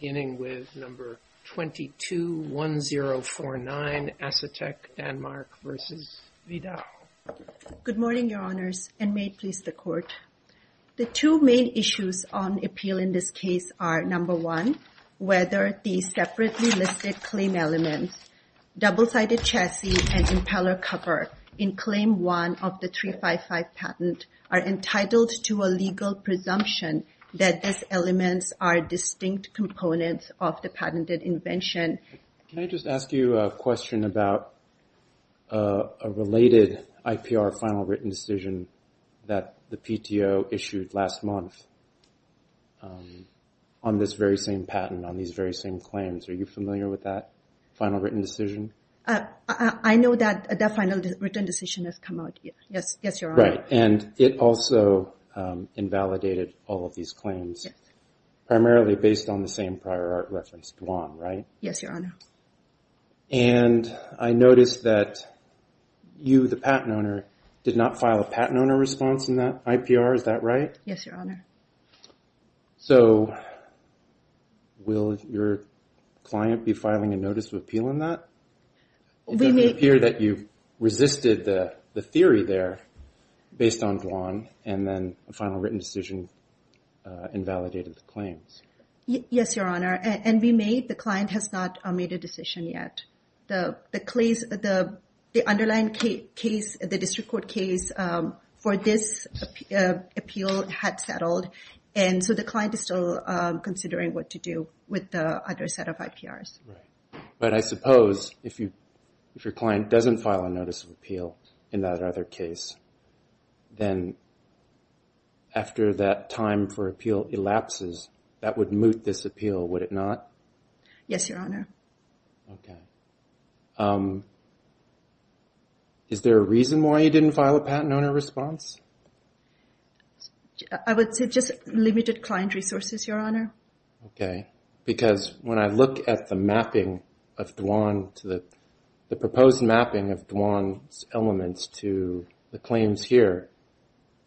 Good morning, Your Honors, and may it please the Court. The two main issues on appeal in this case are, number one, whether the separately listed claim elements, double-sided chassis and impeller cover, in Claim 1 of the 355 patent, are entitled to a legal presumption that these elements are distinct components of the patented invention. Can I just ask you a question about a related IPR final written decision that the PTO issued last month on this very same patent, on these very same claims? Are you familiar with that final written decision? I know that that final written decision has come out. Yes, Your Honor. It also invalidated all of these claims, primarily based on the same prior art reference, Duan, right? Yes, Your Honor. I noticed that you, the patent owner, did not file a patent owner response in that IPR. Is that right? Yes, Your Honor. Will your client be filing a notice of appeal based on Duan, and then a final written decision invalidated the claims? Yes, Your Honor. And we made, the client has not made a decision yet. The underlying case, the district court case for this appeal had settled, and so the client is still considering what to do with the other set of IPRs. Right. But I suppose if your client doesn't file a notice of appeal in that other case, then after that time for appeal elapses, that would moot this appeal, would it not? Yes, Your Honor. Okay. Is there a reason why you didn't file a patent owner response? I would say just limited client resources, Your Honor. Okay. Because when I look at the mapping of Duan to the, the proposed mapping of Duan's elements to the claims here,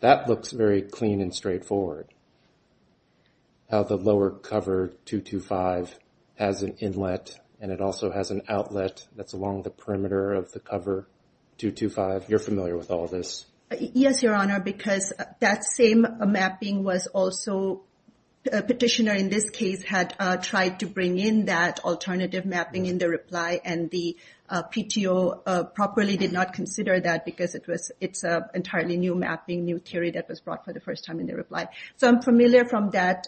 that looks very clean and straightforward. How the lower cover 225 has an inlet, and it also has an outlet that's along the perimeter of the cover 225. You're familiar with all this. Yes, Your Honor, because that same mapping was also, a petitioner in this case had tried to bring in that alternative mapping in the reply, and the PTO properly did not consider that because it was, it's an entirely new mapping, new theory that was brought for the first time in the reply. So I'm familiar from that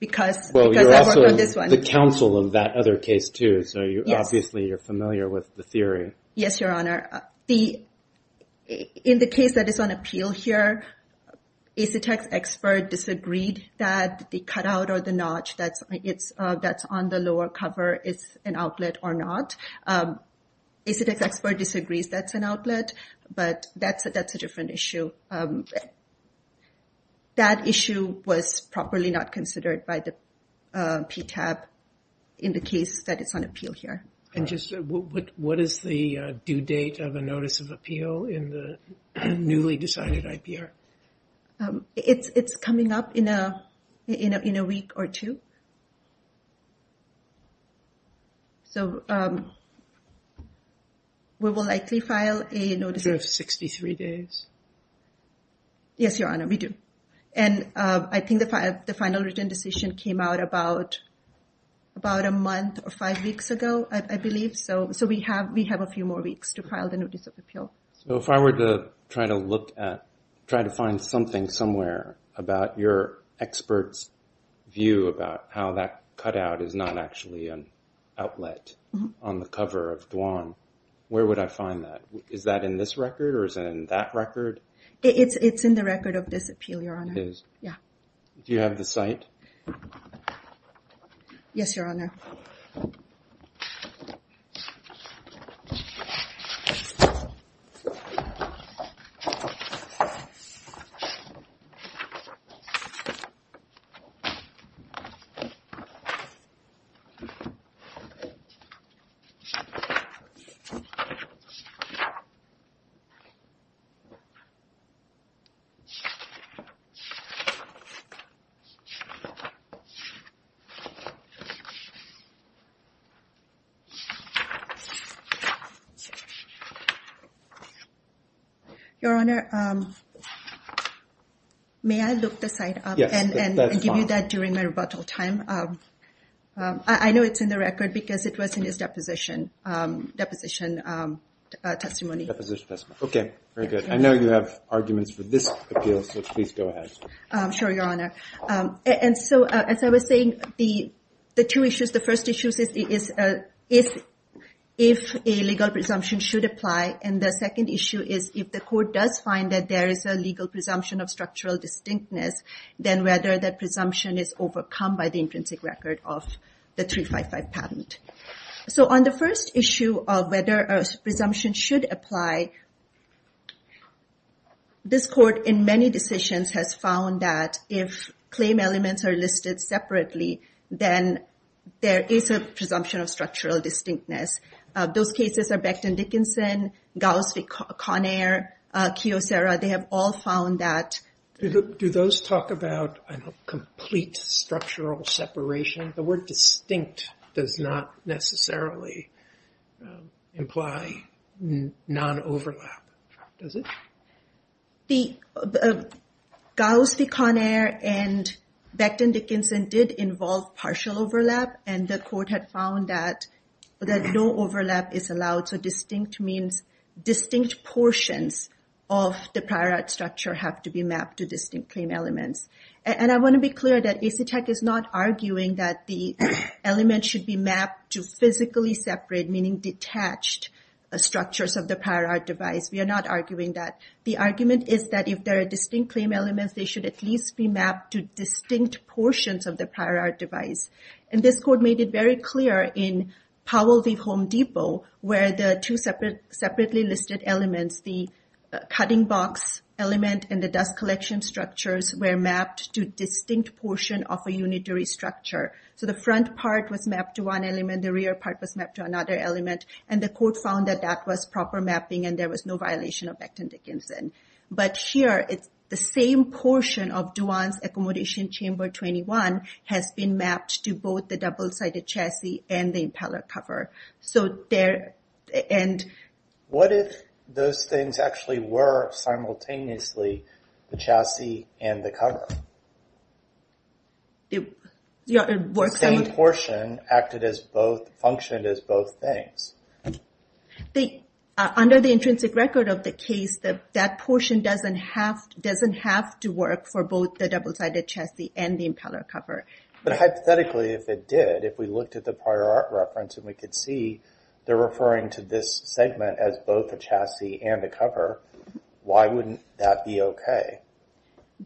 because, because I worked on this one. The counsel of that other case too, so you, obviously you're familiar with the theory. Yes, Your Honor. The, in the case that is on appeal here, ACETec's expert disagreed that the cutout or the notch that's, it's, that's on the lower cover is an outlet or not. ACETec's expert disagrees that's an outlet, but that's, that's a different issue. That issue was properly not considered by the PTAB in the case that it's on appeal here. And just what, what is the due date of a notice of appeal in the newly decided IPR? It's, it's coming up in a, in a, in a week or two. So, we will likely file a notice. Do you have 63 days? Yes, Your Honor, we do. And I think the final written decision came out about, about a month or five weeks ago, I believe. So, so we have, we have a few more weeks to file the notice. If I find something somewhere about your expert's view about how that cutout is not actually an outlet on the cover of Duan, where would I find that? Is that in this record or is it in that record? It's, it's in the record of this appeal, Your Honor. It is? Yeah. Do you have the site? Yes, Your Honor. Your Honor, may I look the site up? Yes, that's fine. And give you that during my rebuttal time. I know it's in the record because it was in his deposition, deposition testimony. Deposition testimony. Okay, very good. I know you have arguments for this appeal, so please go ahead. Sure, Your Honor. And so, as I was saying, the, the two issues, the first issue is, is, is if a legal presumption should apply. And the second issue is if the court does find that there is a legal presumption of structural distinctness, then whether that presumption is overcome by the intrinsic record of the 355 patent. So, on the first issue of whether a presumption should apply, this court, in many decisions, has found that if claim elements are listed separately, then there is a presumption of structural distinctness. Those cases are Becton Dickinson, Gauss, Conair, Kiyosera, they have all found that. Do those talk about a complete structural separation? The word overlap, does it? The, Gauss, the Conair, and Becton Dickinson did involve partial overlap, and the court had found that, that no overlap is allowed. So distinct means, distinct portions of the prior art structure have to be mapped to distinct claim elements. And I want to be clear that AC Tech is not arguing that the element should be mapped to physically separate, meaning detached, structures of the prior art device. We are not arguing that. The argument is that if there are distinct claim elements, they should at least be mapped to distinct portions of the prior art device. And this court made it very clear in Powell v. Home Depot, where the two separate, separately listed elements, the cutting box element and the dust collection structures were mapped to distinct portion of a unitary structure. So the front part was mapped to one element, the rear part was mapped to another element, and the court found that that was proper mapping, and there was no violation of Becton Dickinson. But here, it's the same portion of Dewan's Accommodation Chamber 21 has been mapped to both the double-sided chassis and the impeller cover. So there, and... What if those things actually were simultaneously the chassis and the cover? The same portion acted as both, functioned as both things. Under the intrinsic record of the case, that portion doesn't have to work for both the double-sided chassis and the impeller cover. But hypothetically, if it did, if we looked at the prior art reference and we could see they're referring to this segment as both a chassis and a cover, why wouldn't that be okay?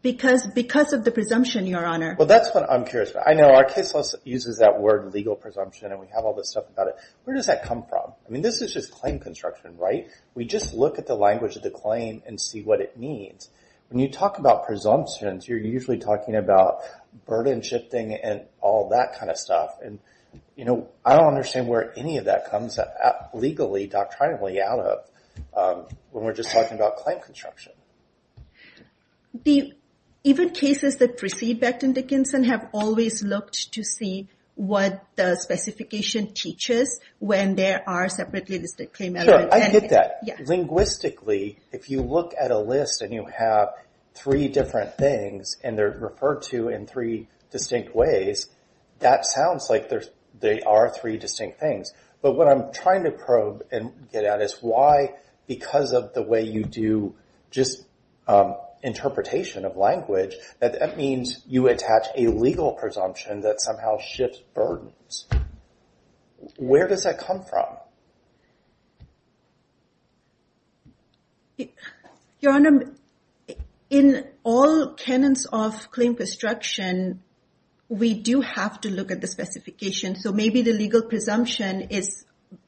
Because of the presumption, Your Honor. Well, that's what I'm curious about. I know our case uses that word, legal presumption, and we have all this stuff about it. Where does that come from? I mean, this is just claim construction, right? We just look at the language of the claim and see what it means. When you talk about presumptions, you're usually talking about burden shifting and all that kind of stuff. And I don't understand where any of that comes legally, doctrinally out of when we're just talking about claim construction. Even cases that precede Becton Dickinson have always looked to see what the specification teaches when there are separately listed claim elements. Sure, I get that. Linguistically, if you look at a list and you have three different things and they're referred to in three distinct ways, that sounds like they are three distinct things. But what I'm trying to probe and get at is why, because of the way you do just interpretation of language, that means you attach a legal presumption that somehow shifts burdens. Where does that come from? Your Honor, in all canons of claim construction, we do have to look at the specification. So maybe the legal presumption is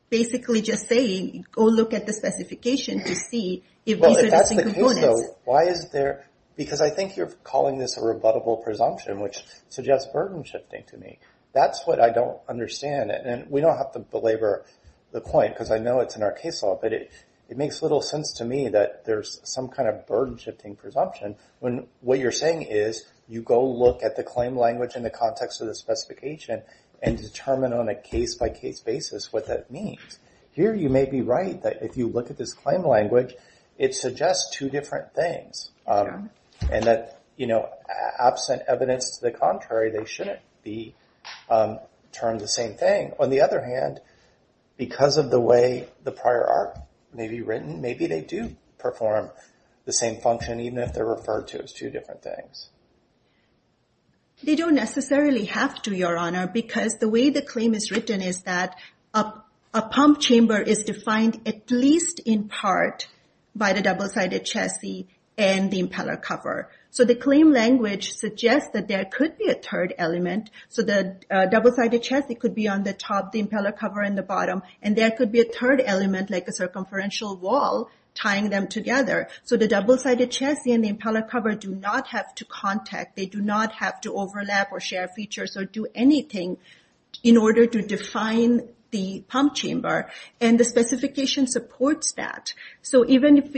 basically just saying, go look at the specification to see if these are distinct components. Well, if that's the case, though, why is there... Because I think you're calling this a rebuttable presumption, which suggests burden shifting to me. That's what I don't understand. And we don't have to belabor the point because I know it's in our case law, but it makes little sense to me that there's some kind of burden shifting presumption when what you're saying is you go look at the claim language in the context of the specification and determine on a case-by-case basis what that means. Here, you may be right that if you look at this claim language, it suggests two different things and that absent evidence to the contrary, they shouldn't be termed the same thing. On the other hand, because of the way the prior art may be written, maybe they do perform the same function even if they're referred to as two different things. They don't necessarily have to, Your Honor, because the way the claim is written is that a pump chamber is defined at least in part by the double-sided chassis and the impeller cover. So the claim language suggests that there could be a third element. So the double-sided chassis could be on the top, the impeller cover in the bottom, and there could be a third element like a circumferential wall tying them together. So the double-sided chassis and the impeller cover do not have to contact. They do not have to overlap or share features or do anything in order to define the pump chamber. And the specification supports that. So even if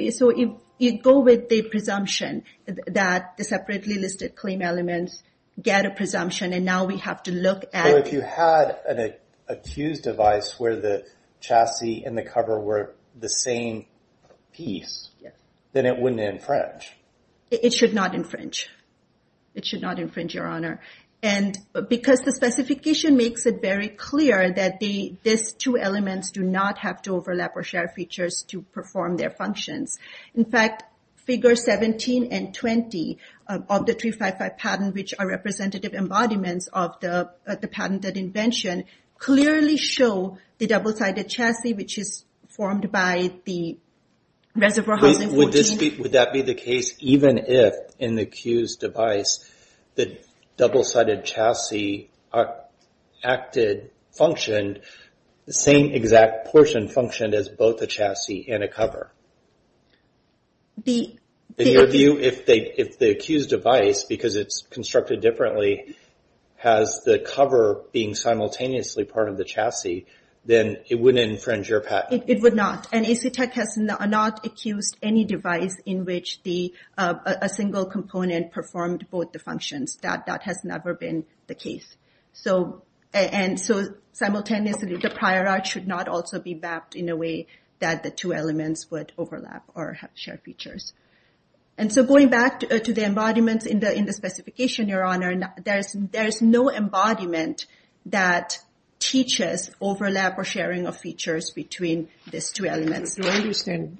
you go with the presumption that the separately listed claim elements get a presumption and now we have to look at... So if you had an accused device where the chassis and the cover were the same piece, then it wouldn't infringe? It should not infringe. It should not infringe, Your Honor. And because the specification makes it very clear that these two elements do not have to overlap or share features to perform their functions. In fact, figure 17 and 20 of the 355 patent, which are representative embodiments of the patented invention, clearly show the double-sided chassis, which is formed by the Reservoir Housing 14. Would that be the case even if, in the accused device, the double-sided chassis acted, functioned, the same exact portion functioned as both the chassis and a cover? In your view, if the accused device, because it's constructed differently, has the cover being simultaneously part of the chassis, then it wouldn't infringe your patent? It would not. And AC Tech has not accused any device in which a single component performed both the functions. That has never been the case. And so simultaneously, the prior art should not also be mapped in a way that the two elements would overlap or share features. And so going back to the embodiments in the specification, Your Honor, there's no embodiment that teaches overlap or sharing of features between these two elements. Because I understand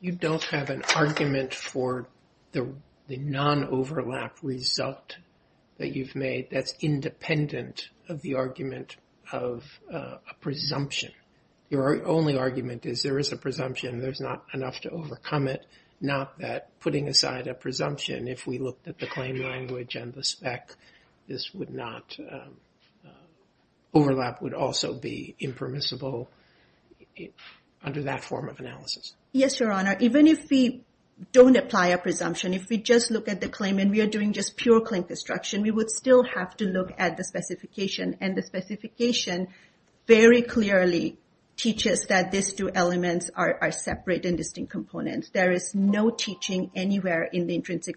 you don't have an argument for the non-overlap result that you've made that's independent of the argument of a presumption. Your only argument is there is a presumption. If we looked at the claim language and the spec, overlap would also be impermissible under that form of analysis. Yes, Your Honor. Even if we don't apply a presumption, if we just look at the claim and we are doing just pure claim construction, we would still have to look at the specification. And the specification very clearly teaches that these two elements are separate and intrinsic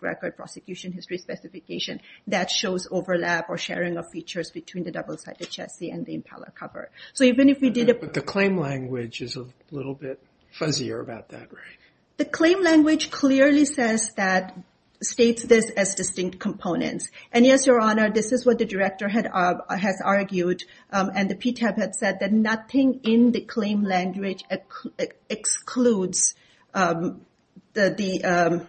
record prosecution history specification that shows overlap or sharing of features between the double-sided chassis and the impeller cover. So even if we did... But the claim language is a little bit fuzzier about that, right? The claim language clearly says that, states this as distinct components. And yes, Your Honor, this is what the director has argued. And the PTAB had said that nothing in the claim language excludes the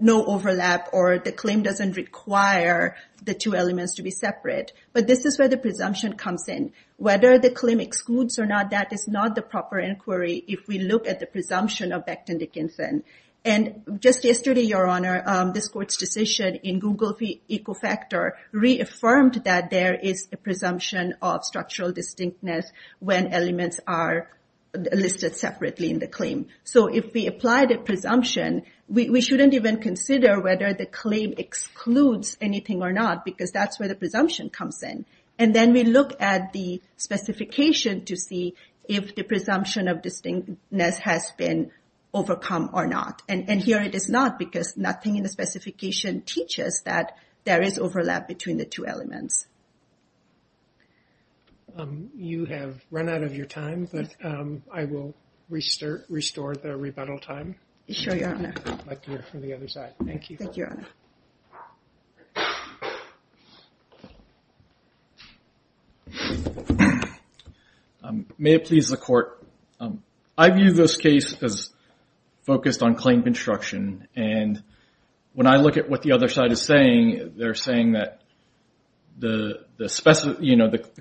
no overlap or the claim doesn't require the two elements to be separate. But this is where the presumption comes in. Whether the claim excludes or not, that is not the proper inquiry if we look at the presumption of Becton Dickinson. And just yesterday, Your Honor, this court's decision in Google Ecofactor reaffirmed that there is a presumption of structural distinctness when elements are listed separately in the claim. So if we apply the presumption, we shouldn't even consider whether the claim excludes anything or not because that's where the presumption comes in. And then we look at the specification to see if the presumption of distinctness has been overcome or not. And here it is not because nothing in the specification teaches that there is overlap between the two elements. You have run out of your time, but I will restore the rebuttal time. Sure, Your Honor. I'd like to hear from the other side. Thank you. Thank you, Your Honor. May it please the court. I view this case as focused on claim construction. And when I look at what the other side is saying, they're saying that the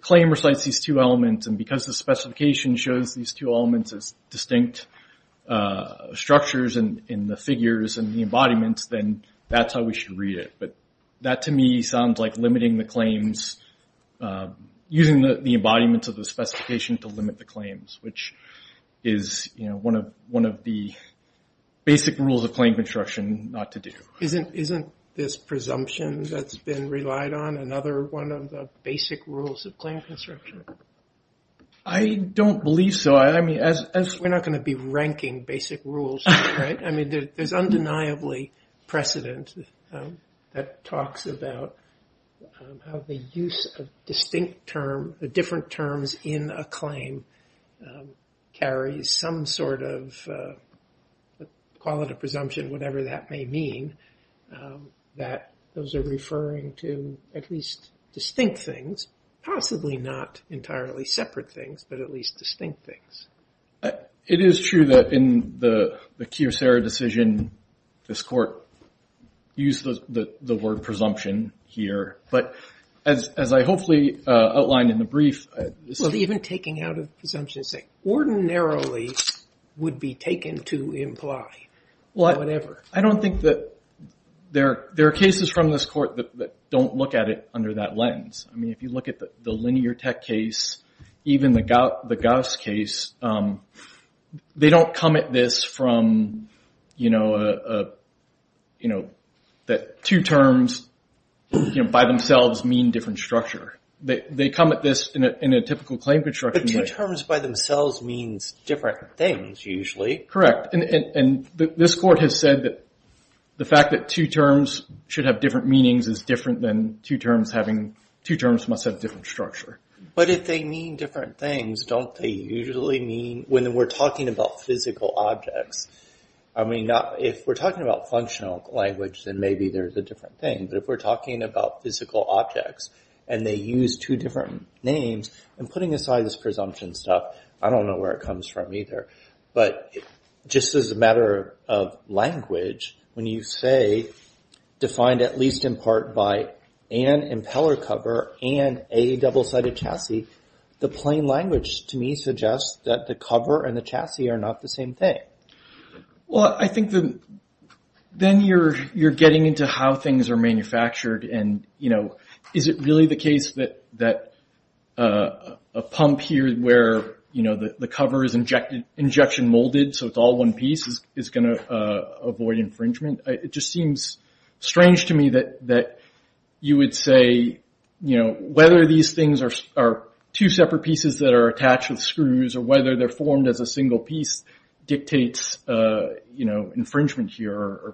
claim recites these two elements. And because the specification shows these two elements as distinct structures in the figures and the embodiments, then that's how we should read it. But that, to me, sounds like limiting the claims, using the embodiments of the specification to limit the claims, which is one of the basic rules of claim construction not to do. Isn't this presumption that's been relied on another one of the basic rules of claim construction? I don't believe so. I mean, as we're not going to be ranking basic rules, right? I mean, there's undeniably precedent that talks about how the use of distinct term, the different terms in a claim, carries some sort of quality of presumption, whatever that may mean, that those are referring to at least distinct things, possibly not entirely separate things, but at least distinct things. It is true that in the Kyocera decision, this court used the word presumption here. But as I hopefully outlined in the brief... Even taking out of presumption say ordinarily would be taken to imply whatever. I don't think that there are cases from this court that don't look at it under that lens. I mean, if you look at the Linear Tech case, even the Gauss case, they don't come at this from, you know, that two terms by themselves mean different structure. They come at this in a typical claim construction way. But two terms by themselves means different things usually. Correct. And this court has said that the fact that two terms should have different meanings is different than two terms must have different structure. But if they mean different things, don't they usually mean... When we're talking about physical objects, I mean, if we're talking about functional language, then maybe there's a different thing. But if we're talking about physical objects and they use two different names and putting aside this presumption stuff, I don't know where it comes from either. But just as a matter of language, when you say defined at least in part by an impeller cover and a double-sided chassis, the plain language to me suggests that the cover and the chassis are not the same thing. Well, I think then you're getting into how things are manufactured and, you know, is it really the case that a pump here where, you know, the cover is injection molded so it's all one piece is going to avoid infringement? It just seems strange to me that you would say, you know, whether these things are two separate pieces that are attached with screws or whether they're formed as a single piece dictates infringement here.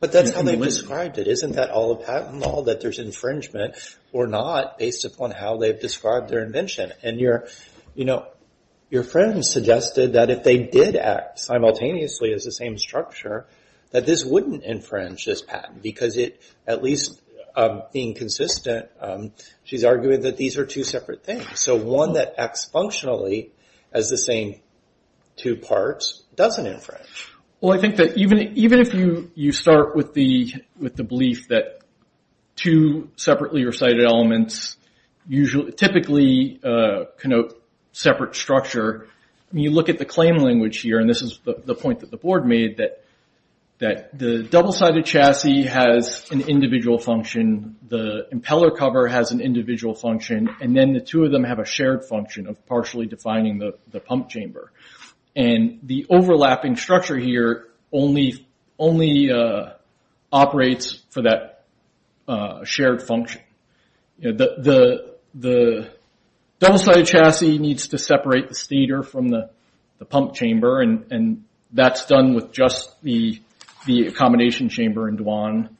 But that's how they've described it. Isn't that all a patent law that there's infringement or not based upon how they've described their invention? And, you know, your friend suggested that if they did act simultaneously as the same structure, that this wouldn't infringe this patent because it, at least being consistent, she's arguing that these are two separate things. So one that acts functionally as the same two parts doesn't infringe. Well, I think that even if you start with the belief that two separately recited elements typically connote separate structure, when you look at the claim language here, and this is the point that the board made, that the double-sided chassis has an individual function, the impeller cover has an individual function, and then the two of them have a shared function of partially defining the pump chamber. And the overlapping structure here only operates for that shared function. The double-sided chassis needs to separate the stator from the pump chamber, and that's done with just the accommodation chamber in Dwan.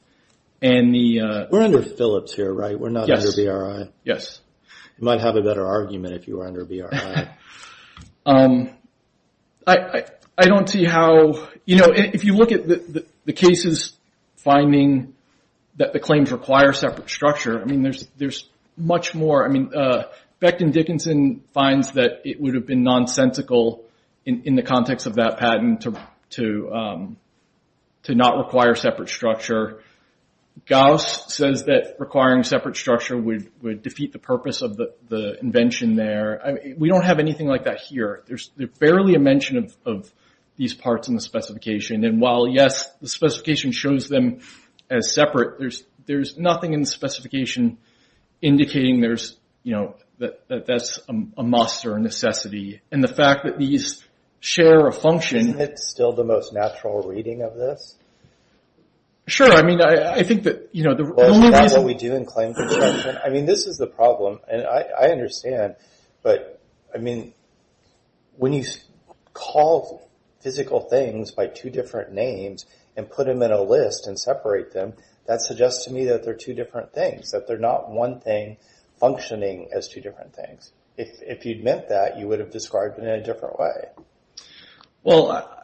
We're under Phillips here, right? We're not under BRI? Yes. You might have a better argument if you were under BRI. I don't see how, you know, if you look at the cases finding that the claims require separate structure, I mean, there's much more. I mean, Beckton Dickinson finds that it would have been nonsensical in the context of that patent to not require separate structure. Gauss says that requiring separate structure would defeat the purpose of the invention there. We don't have anything like that here. There's barely a mention of these parts in the specification. And while, yes, the specification shows them as separate, there's nothing in the fact that these share a function. Isn't it still the most natural reading of this? Sure. I mean, I think that, you know, the only reason... Well, is that what we do in claims inspection? I mean, this is the problem. And I understand. But, I mean, when you call physical things by two different names and put them in a list and separate them, that suggests to me that they're two different things, that they're not one thing described in a different way. Well,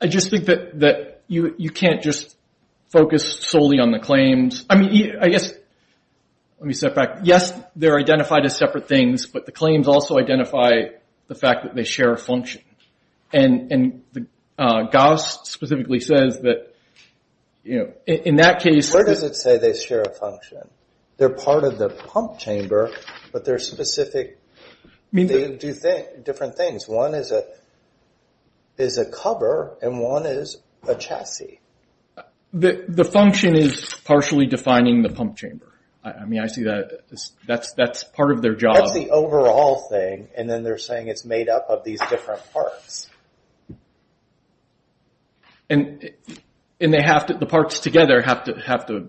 I just think that you can't just focus solely on the claims. I mean, I guess, let me step back. Yes, they're identified as separate things, but the claims also identify the fact that they share a function. And Gauss specifically says that, you know, in that case... Where does it say they share a function? They're part of the pump chamber, but they're specific. They do different things. One is a cover, and one is a chassis. The function is partially defining the pump chamber. I mean, I see that. That's part of their job. That's the overall thing, and then they're saying it's made up of these different parts. And the parts together have to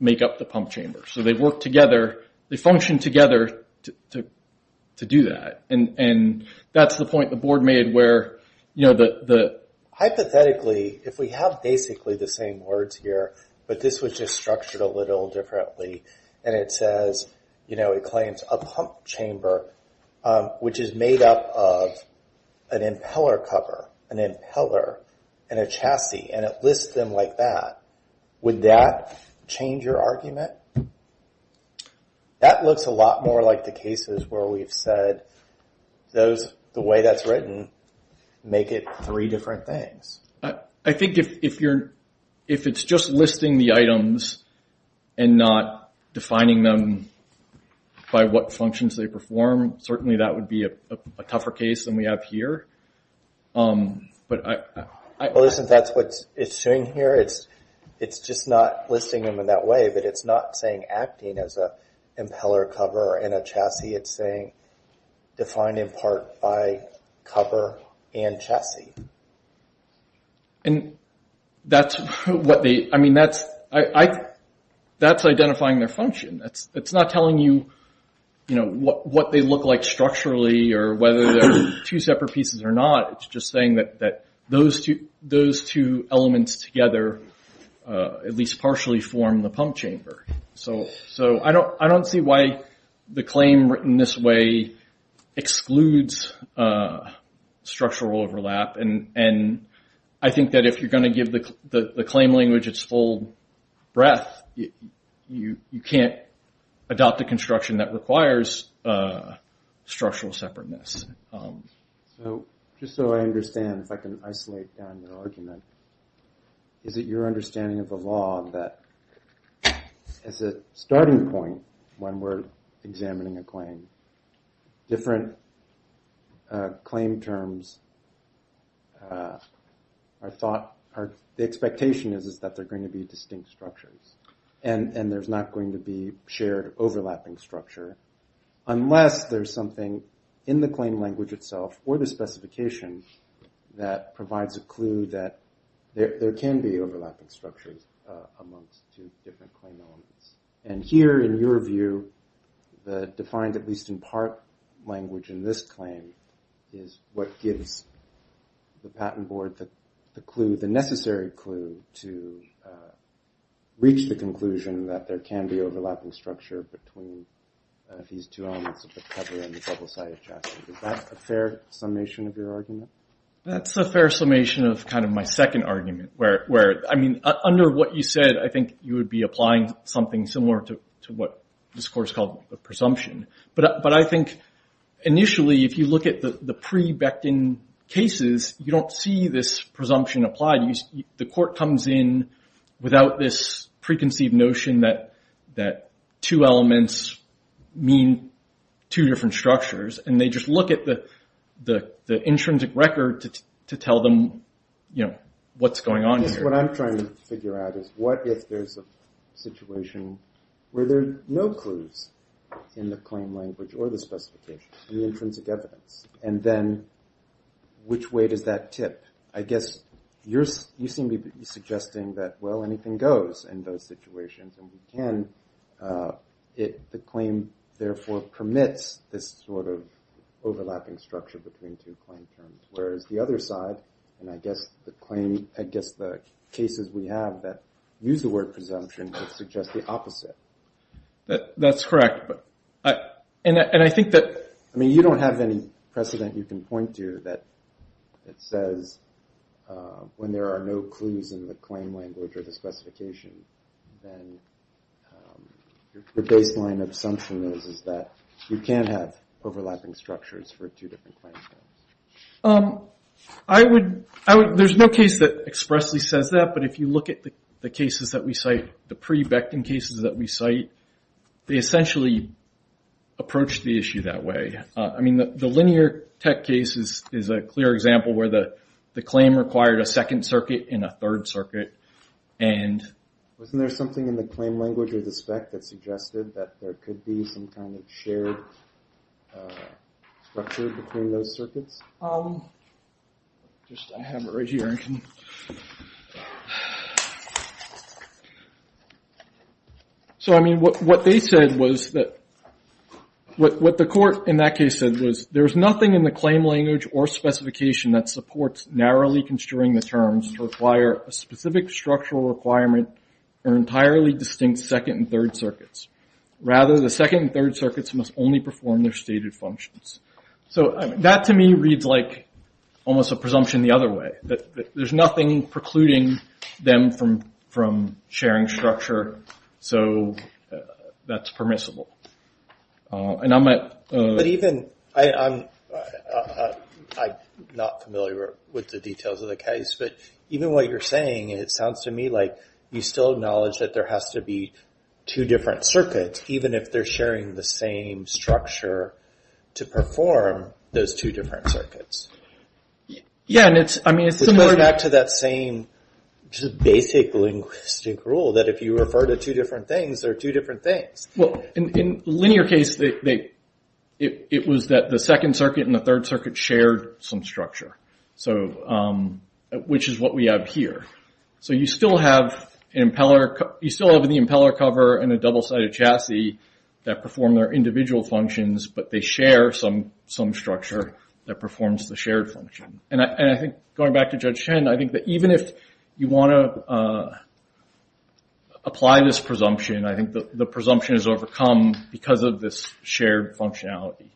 make up the pump chamber. So they work together, they function together to do that. And that's the point the board made where, you know, the... Hypothetically, if we have basically the same words here, but this was just structured a little differently, and it says, you know, it claims a pump chamber, which is made up of an impeller cover, an impeller, and a chassis, and it lists them like that. Would that change your argument? That looks a lot more like the cases where we've said those, the way that's written, make it three different things. I think if it's just listing the items and not defining them by what functions they perform, certainly that would be a tougher case than we have here. But I... Well, listen, that's what it's doing here. It's just not listing them in that way, it's not saying acting as an impeller cover and a chassis, it's saying defined in part by cover and chassis. And that's what they... I mean, that's identifying their function. It's not telling you, you know, what they look like structurally, or whether they're two separate pieces or not. It's just saying that those two elements together at least partially form the pump chamber. So I don't see why the claim written this way excludes structural overlap, and I think that if you're going to give the claim language its full breadth, you can't adopt a construction that requires structural separateness. So just so I understand, if I can isolate down your argument, is it your understanding of the law that as a starting point when we're examining a claim, different claim terms are thought... The expectation is that they're going to be distinct structures, and there's not going to be shared overlapping structure, unless there's something in the claim language itself or the specification that provides a clue that there can be overlapping structures amongst two different claim elements. And here, in your view, the defined at least in part language in this claim is what gives the patent board the necessary clue to reach the conclusion that there can be overlapping structure between these two elements of the cover and the double-sided chassis. Is that a fair summation of your argument? That's a fair summation of my second argument. Under what you said, I think you would be applying something similar to what this course called a presumption. But I think initially, if you look at the pre-Becton cases, you don't see this presumption applied. The court comes in without this preconceived notion that two elements mean two different structures. And they just look at the intrinsic record to tell them what's going on here. What I'm trying to figure out is what if there's a situation where there are no clues in the claim language or the specification, the intrinsic evidence, and then which way does that tip? I guess you seem to be suggesting that, well, anything goes in those situations. And we can. The claim, therefore, permits this sort of overlapping structure between two claim terms. Whereas the other side, and I guess the claim, I guess the cases we have that use the word presumption, would suggest the opposite. That's correct. And I think that... I mean, you don't have any precedent you can point to that says when there are no clues in the claim language or the specification, then the baseline assumption is that you can't have overlapping structures for two different. There's no case that expressly says that. But if you look at the cases that we cite, the pre-Becton cases that we cite, they essentially approach the issue that way. The Linear Tech case is a clear example where the claim required a second circuit and a third circuit. Wasn't there something in the claim language or the spec that suggested that there could be some kind of shared structure between those circuits? I have it right here. So, I mean, what they said was that, what the court in that case said was, there's nothing in the claim language or specification that supports narrowly construing the terms to require a specific structural requirement or entirely distinct second and third circuits. Rather, the second and third circuits must only perform their stated functions. So that, to me, reads like almost a presumption the other way. That there's nothing precluding them from sharing structure. So that's permissible. And I'm not familiar with the details of the case, but even what you're saying, it sounds to me like you still acknowledge that there has to be two different circuits, even if they're sharing the same structure, to perform those two different circuits. Yeah, and it's, I mean, it's similar back to that same basic linguistic rule that if you refer to two different things, they're two different things. Well, in the linear case, it was that the second circuit and the third circuit shared some structure. So, which is what we have here. So you still have an impeller, you still have the impeller cover and a double-sided chassis that perform their individual functions, but they share some structure that performs the shared function. And I think, going back to Judge Shen, I think that even if you want to apply this presumption, I think the presumption is overcome because of this shared functionality.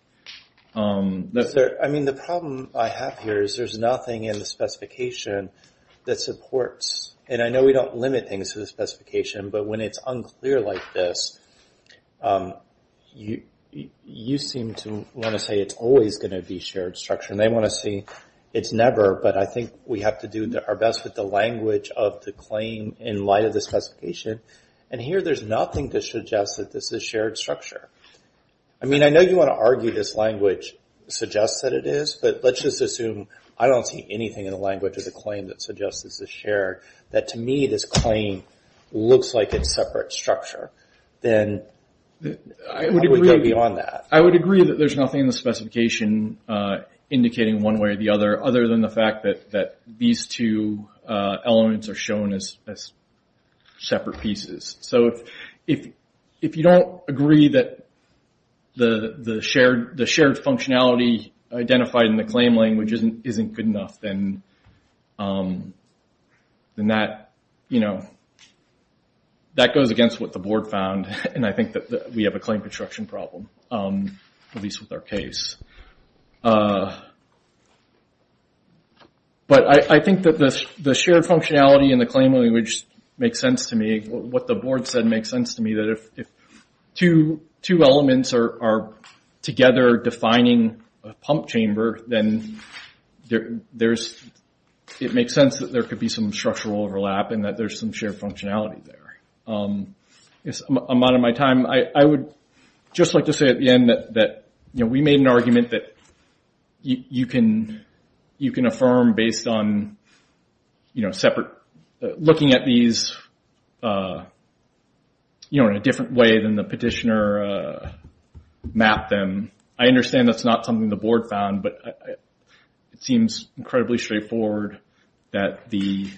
I mean, the problem I have here is there's nothing in the specification that supports, and I know we don't limit things to the specification, but when it's unclear like this, you seem to want to say it's always going to be shared structure, and they want to say it's never, but I think we have to do our best with the language of the claim in light of the specification. And here, there's nothing to suggest that this is shared structure. I mean, I know you want to argue this language suggests that it is, but let's just assume I don't see anything in the language of the claim that suggests this is shared, that to me, this claim looks like it's separate structure, then I would go beyond that. I would agree that there's nothing in the specification indicating one way or the other, other than the fact that these two elements are shown as separate pieces. So if you don't agree that the shared functionality identified in the claim language isn't good enough, then that goes against what the board found, and I think that we have a claim construction problem, at least with our case. But I think that the shared functionality in the claim language makes sense to me. What the board said makes sense to me, that if two elements are together defining a pump chamber, then it makes sense that there could be some structural overlap, and that there's some shared functionality there. I'm out of my time. I would just like to say at the end that we made an argument that you can affirm based on separate, looking at these in a different way than the petitioner mapped them. I understand that's not something the board found, but it seems incredibly straightforward that the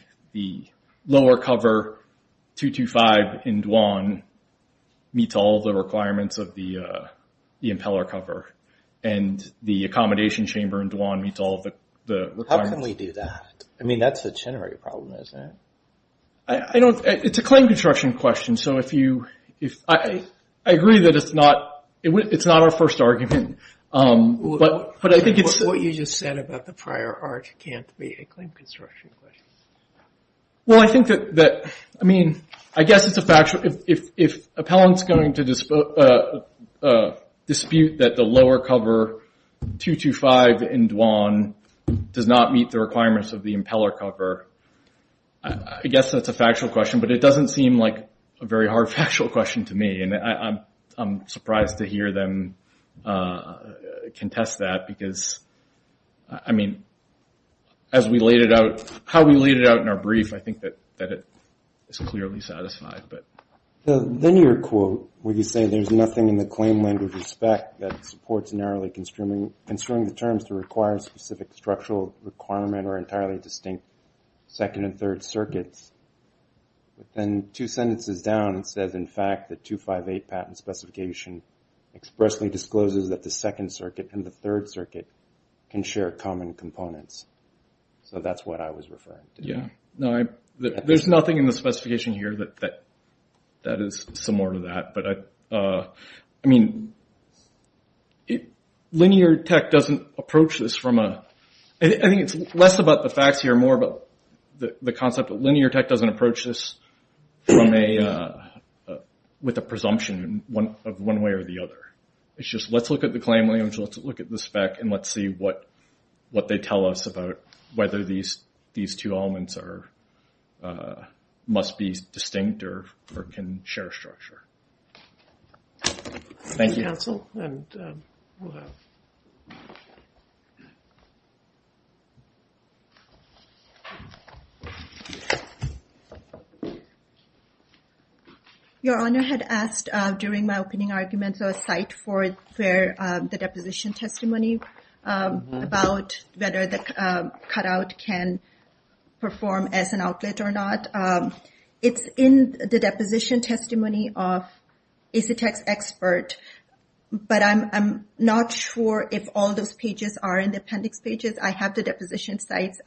lower cover 225 in Dwan meets all the requirements of the impeller cover, and the accommodation chamber in Dwan meets all the requirements. How can we do that? I mean, that's a generic problem, isn't it? It's a claim construction question, so I agree that it's not our first argument. What you just said about the prior art can't be a claim construction question. Well, I think that, I mean, I guess it's a fact, if appellants going to dispute that the lower cover 225 in Dwan does not meet the requirements of the impeller cover, I guess that's a factual question, but it doesn't seem like a very hard factual question to me, and I'm surprised to hear them contest that because, I mean, as we laid it out, how we laid it out in our brief, I think that it is clearly satisfied. The linear quote where you say there's nothing in the claim land of respect that supports narrowly construing the terms to require specific structural requirement or entirely distinct second and third circuits, but then two sentences down, it says, in fact, the 258 patent specification expressly discloses that the second circuit and the third circuit can share common components, so that's what I was referring to. Yeah, no, there's nothing in the specification here that is similar to that, but, I mean, it, linear tech doesn't approach this from a, I think it's less about the facts here, more about the concept that linear tech doesn't approach this from a, with a presumption of one way or the other. It's just, let's look at the claim land, let's look at the spec, and let's see what they tell us about whether these two elements are, must be distinct or can share structure. Thank you. Thank you, counsel, and we'll have. Your honor had asked during my opening argument, so a site for the deposition testimony about whether the cutout can perform as an outlet or not. It's in the deposition testimony of a LISITEX expert, but I'm not sure if all those pages are in the appendix pages. I have the deposition sites.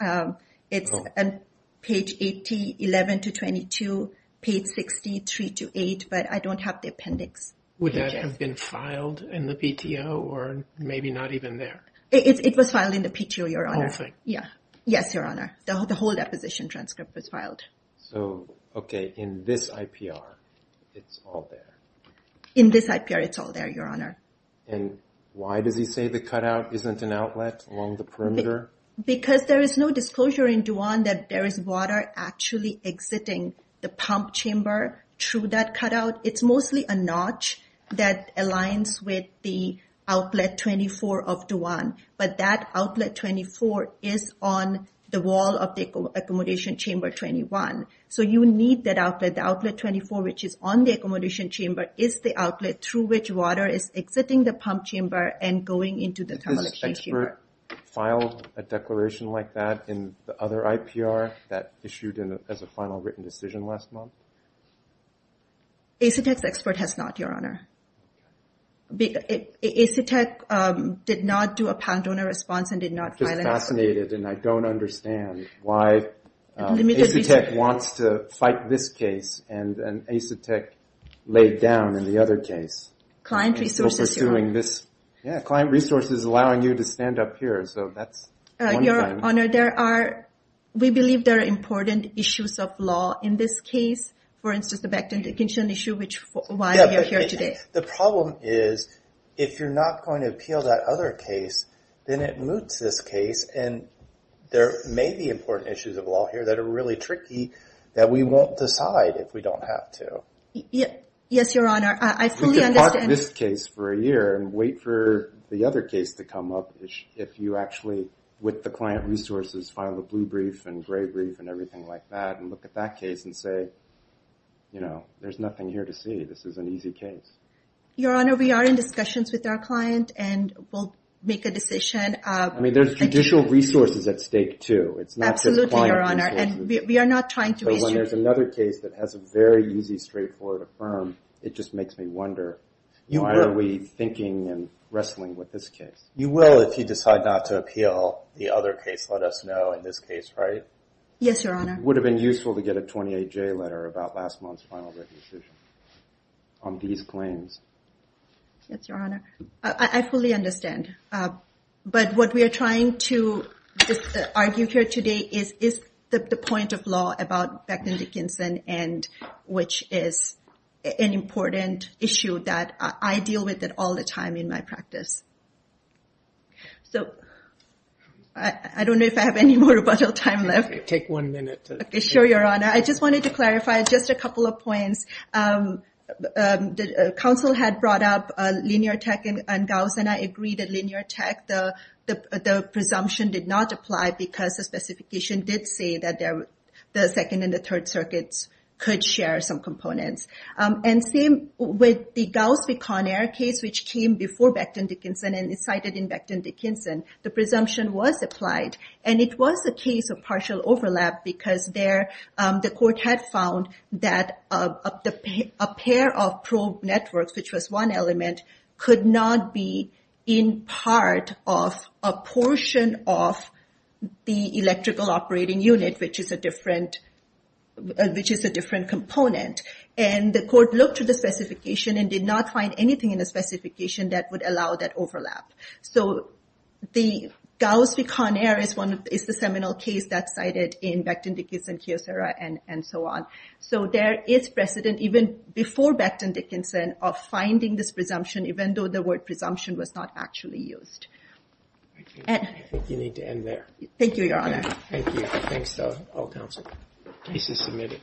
It's on page 80, 11 to 22, page 63 to 8, but I don't have the appendix. Would that have been filed in the PTO or maybe not even there? It was filed in the PTO, your honor. Oh, okay. Yeah. Yes, your honor. The whole deposition transcript was filed. So, okay, in this IPR, it's all there. In this IPR, it's all there, your honor. And why does he say the cutout isn't an outlet along the perimeter? Because there is no disclosure in Duwan that there is water actually exiting the pump chamber through that cutout. It's mostly a notch that aligns with the outlet 24 of Duwan, but that outlet 24 is on the wall of the accommodation chamber 21. So you need that outlet. The outlet 24, which is on the accommodation chamber, is the outlet through which water is exiting the pump chamber and going into the thermal exchange chamber. Has this expert filed a declaration like that in the other IPR that issued as a final written decision last month? LISITEX expert has not, your honor. LISITEX did not do a pound donor response and did not file a declaration. I'm just fascinated, and I don't understand why LISITEX wants to fight this case and LISITEX laid down in the other case. Client resources, your honor. And still pursuing this. Yeah, client resources allowing you to stand up here. So that's one thing. Your honor, we believe there are important issues of law in this case. For instance, the Bakhtin-Dikinshan issue, which is why we are here today. The problem is, if you're not going to appeal that other case, then it moots this case. And there may be important issues of law here that are really tricky that we won't decide if we don't have to. Yes, your honor. I fully understand. We could project this case for a year and wait for the other case to come up if you actually, with the client resources, file a blue brief and gray brief and everything like that and look at that case and say, you know, there's nothing here to see. This is an easy case. Your honor, we are in discussions with our client and we'll make a decision. I mean, there's judicial resources at stake, too. It's not just client resources. Absolutely, your honor. And we are not trying to issue. But when there's another case that has a very easy, straightforward affirm, it just makes me wonder, why are we thinking and wrestling with this case? You will if you decide not to appeal the other case, let us know in this case, right? Yes, your honor. Would have been useful to get a 28-J letter about last month's final decision on these claims. Yes, your honor. I fully understand. But what we are trying to argue here today is the point of law about Beckman Dickinson and which is an important issue that I deal with it all the time in my practice. So I don't know if I have any more time left. Take one minute. Sure, your honor. I just wanted to clarify just a couple of points. The council had brought up linear tech and Gauss, and I agree that linear tech, the presumption did not apply because the specification did say that the second and the third circuits could share some components. And same with the Gauss-Picard case, which came before Beckman Dickinson and is cited in Beckman Dickinson, the presumption was applied. And it was a case of partial overlap because the court had found that a pair of probe networks, which was one element, could not be in part of a portion of the electrical operating unit, which is a different component. And the court looked at the specification and did not find anything in the specification that would allow that overlap. So the Gauss-Picard is the seminal case that's cited in Beckman Dickinson and so on. So there is precedent, even before Beckman Dickinson, of finding this presumption, even though the word presumption was not actually used. I think you need to end there. Thank you, your honor. Thank you. Thanks to all council cases submitted.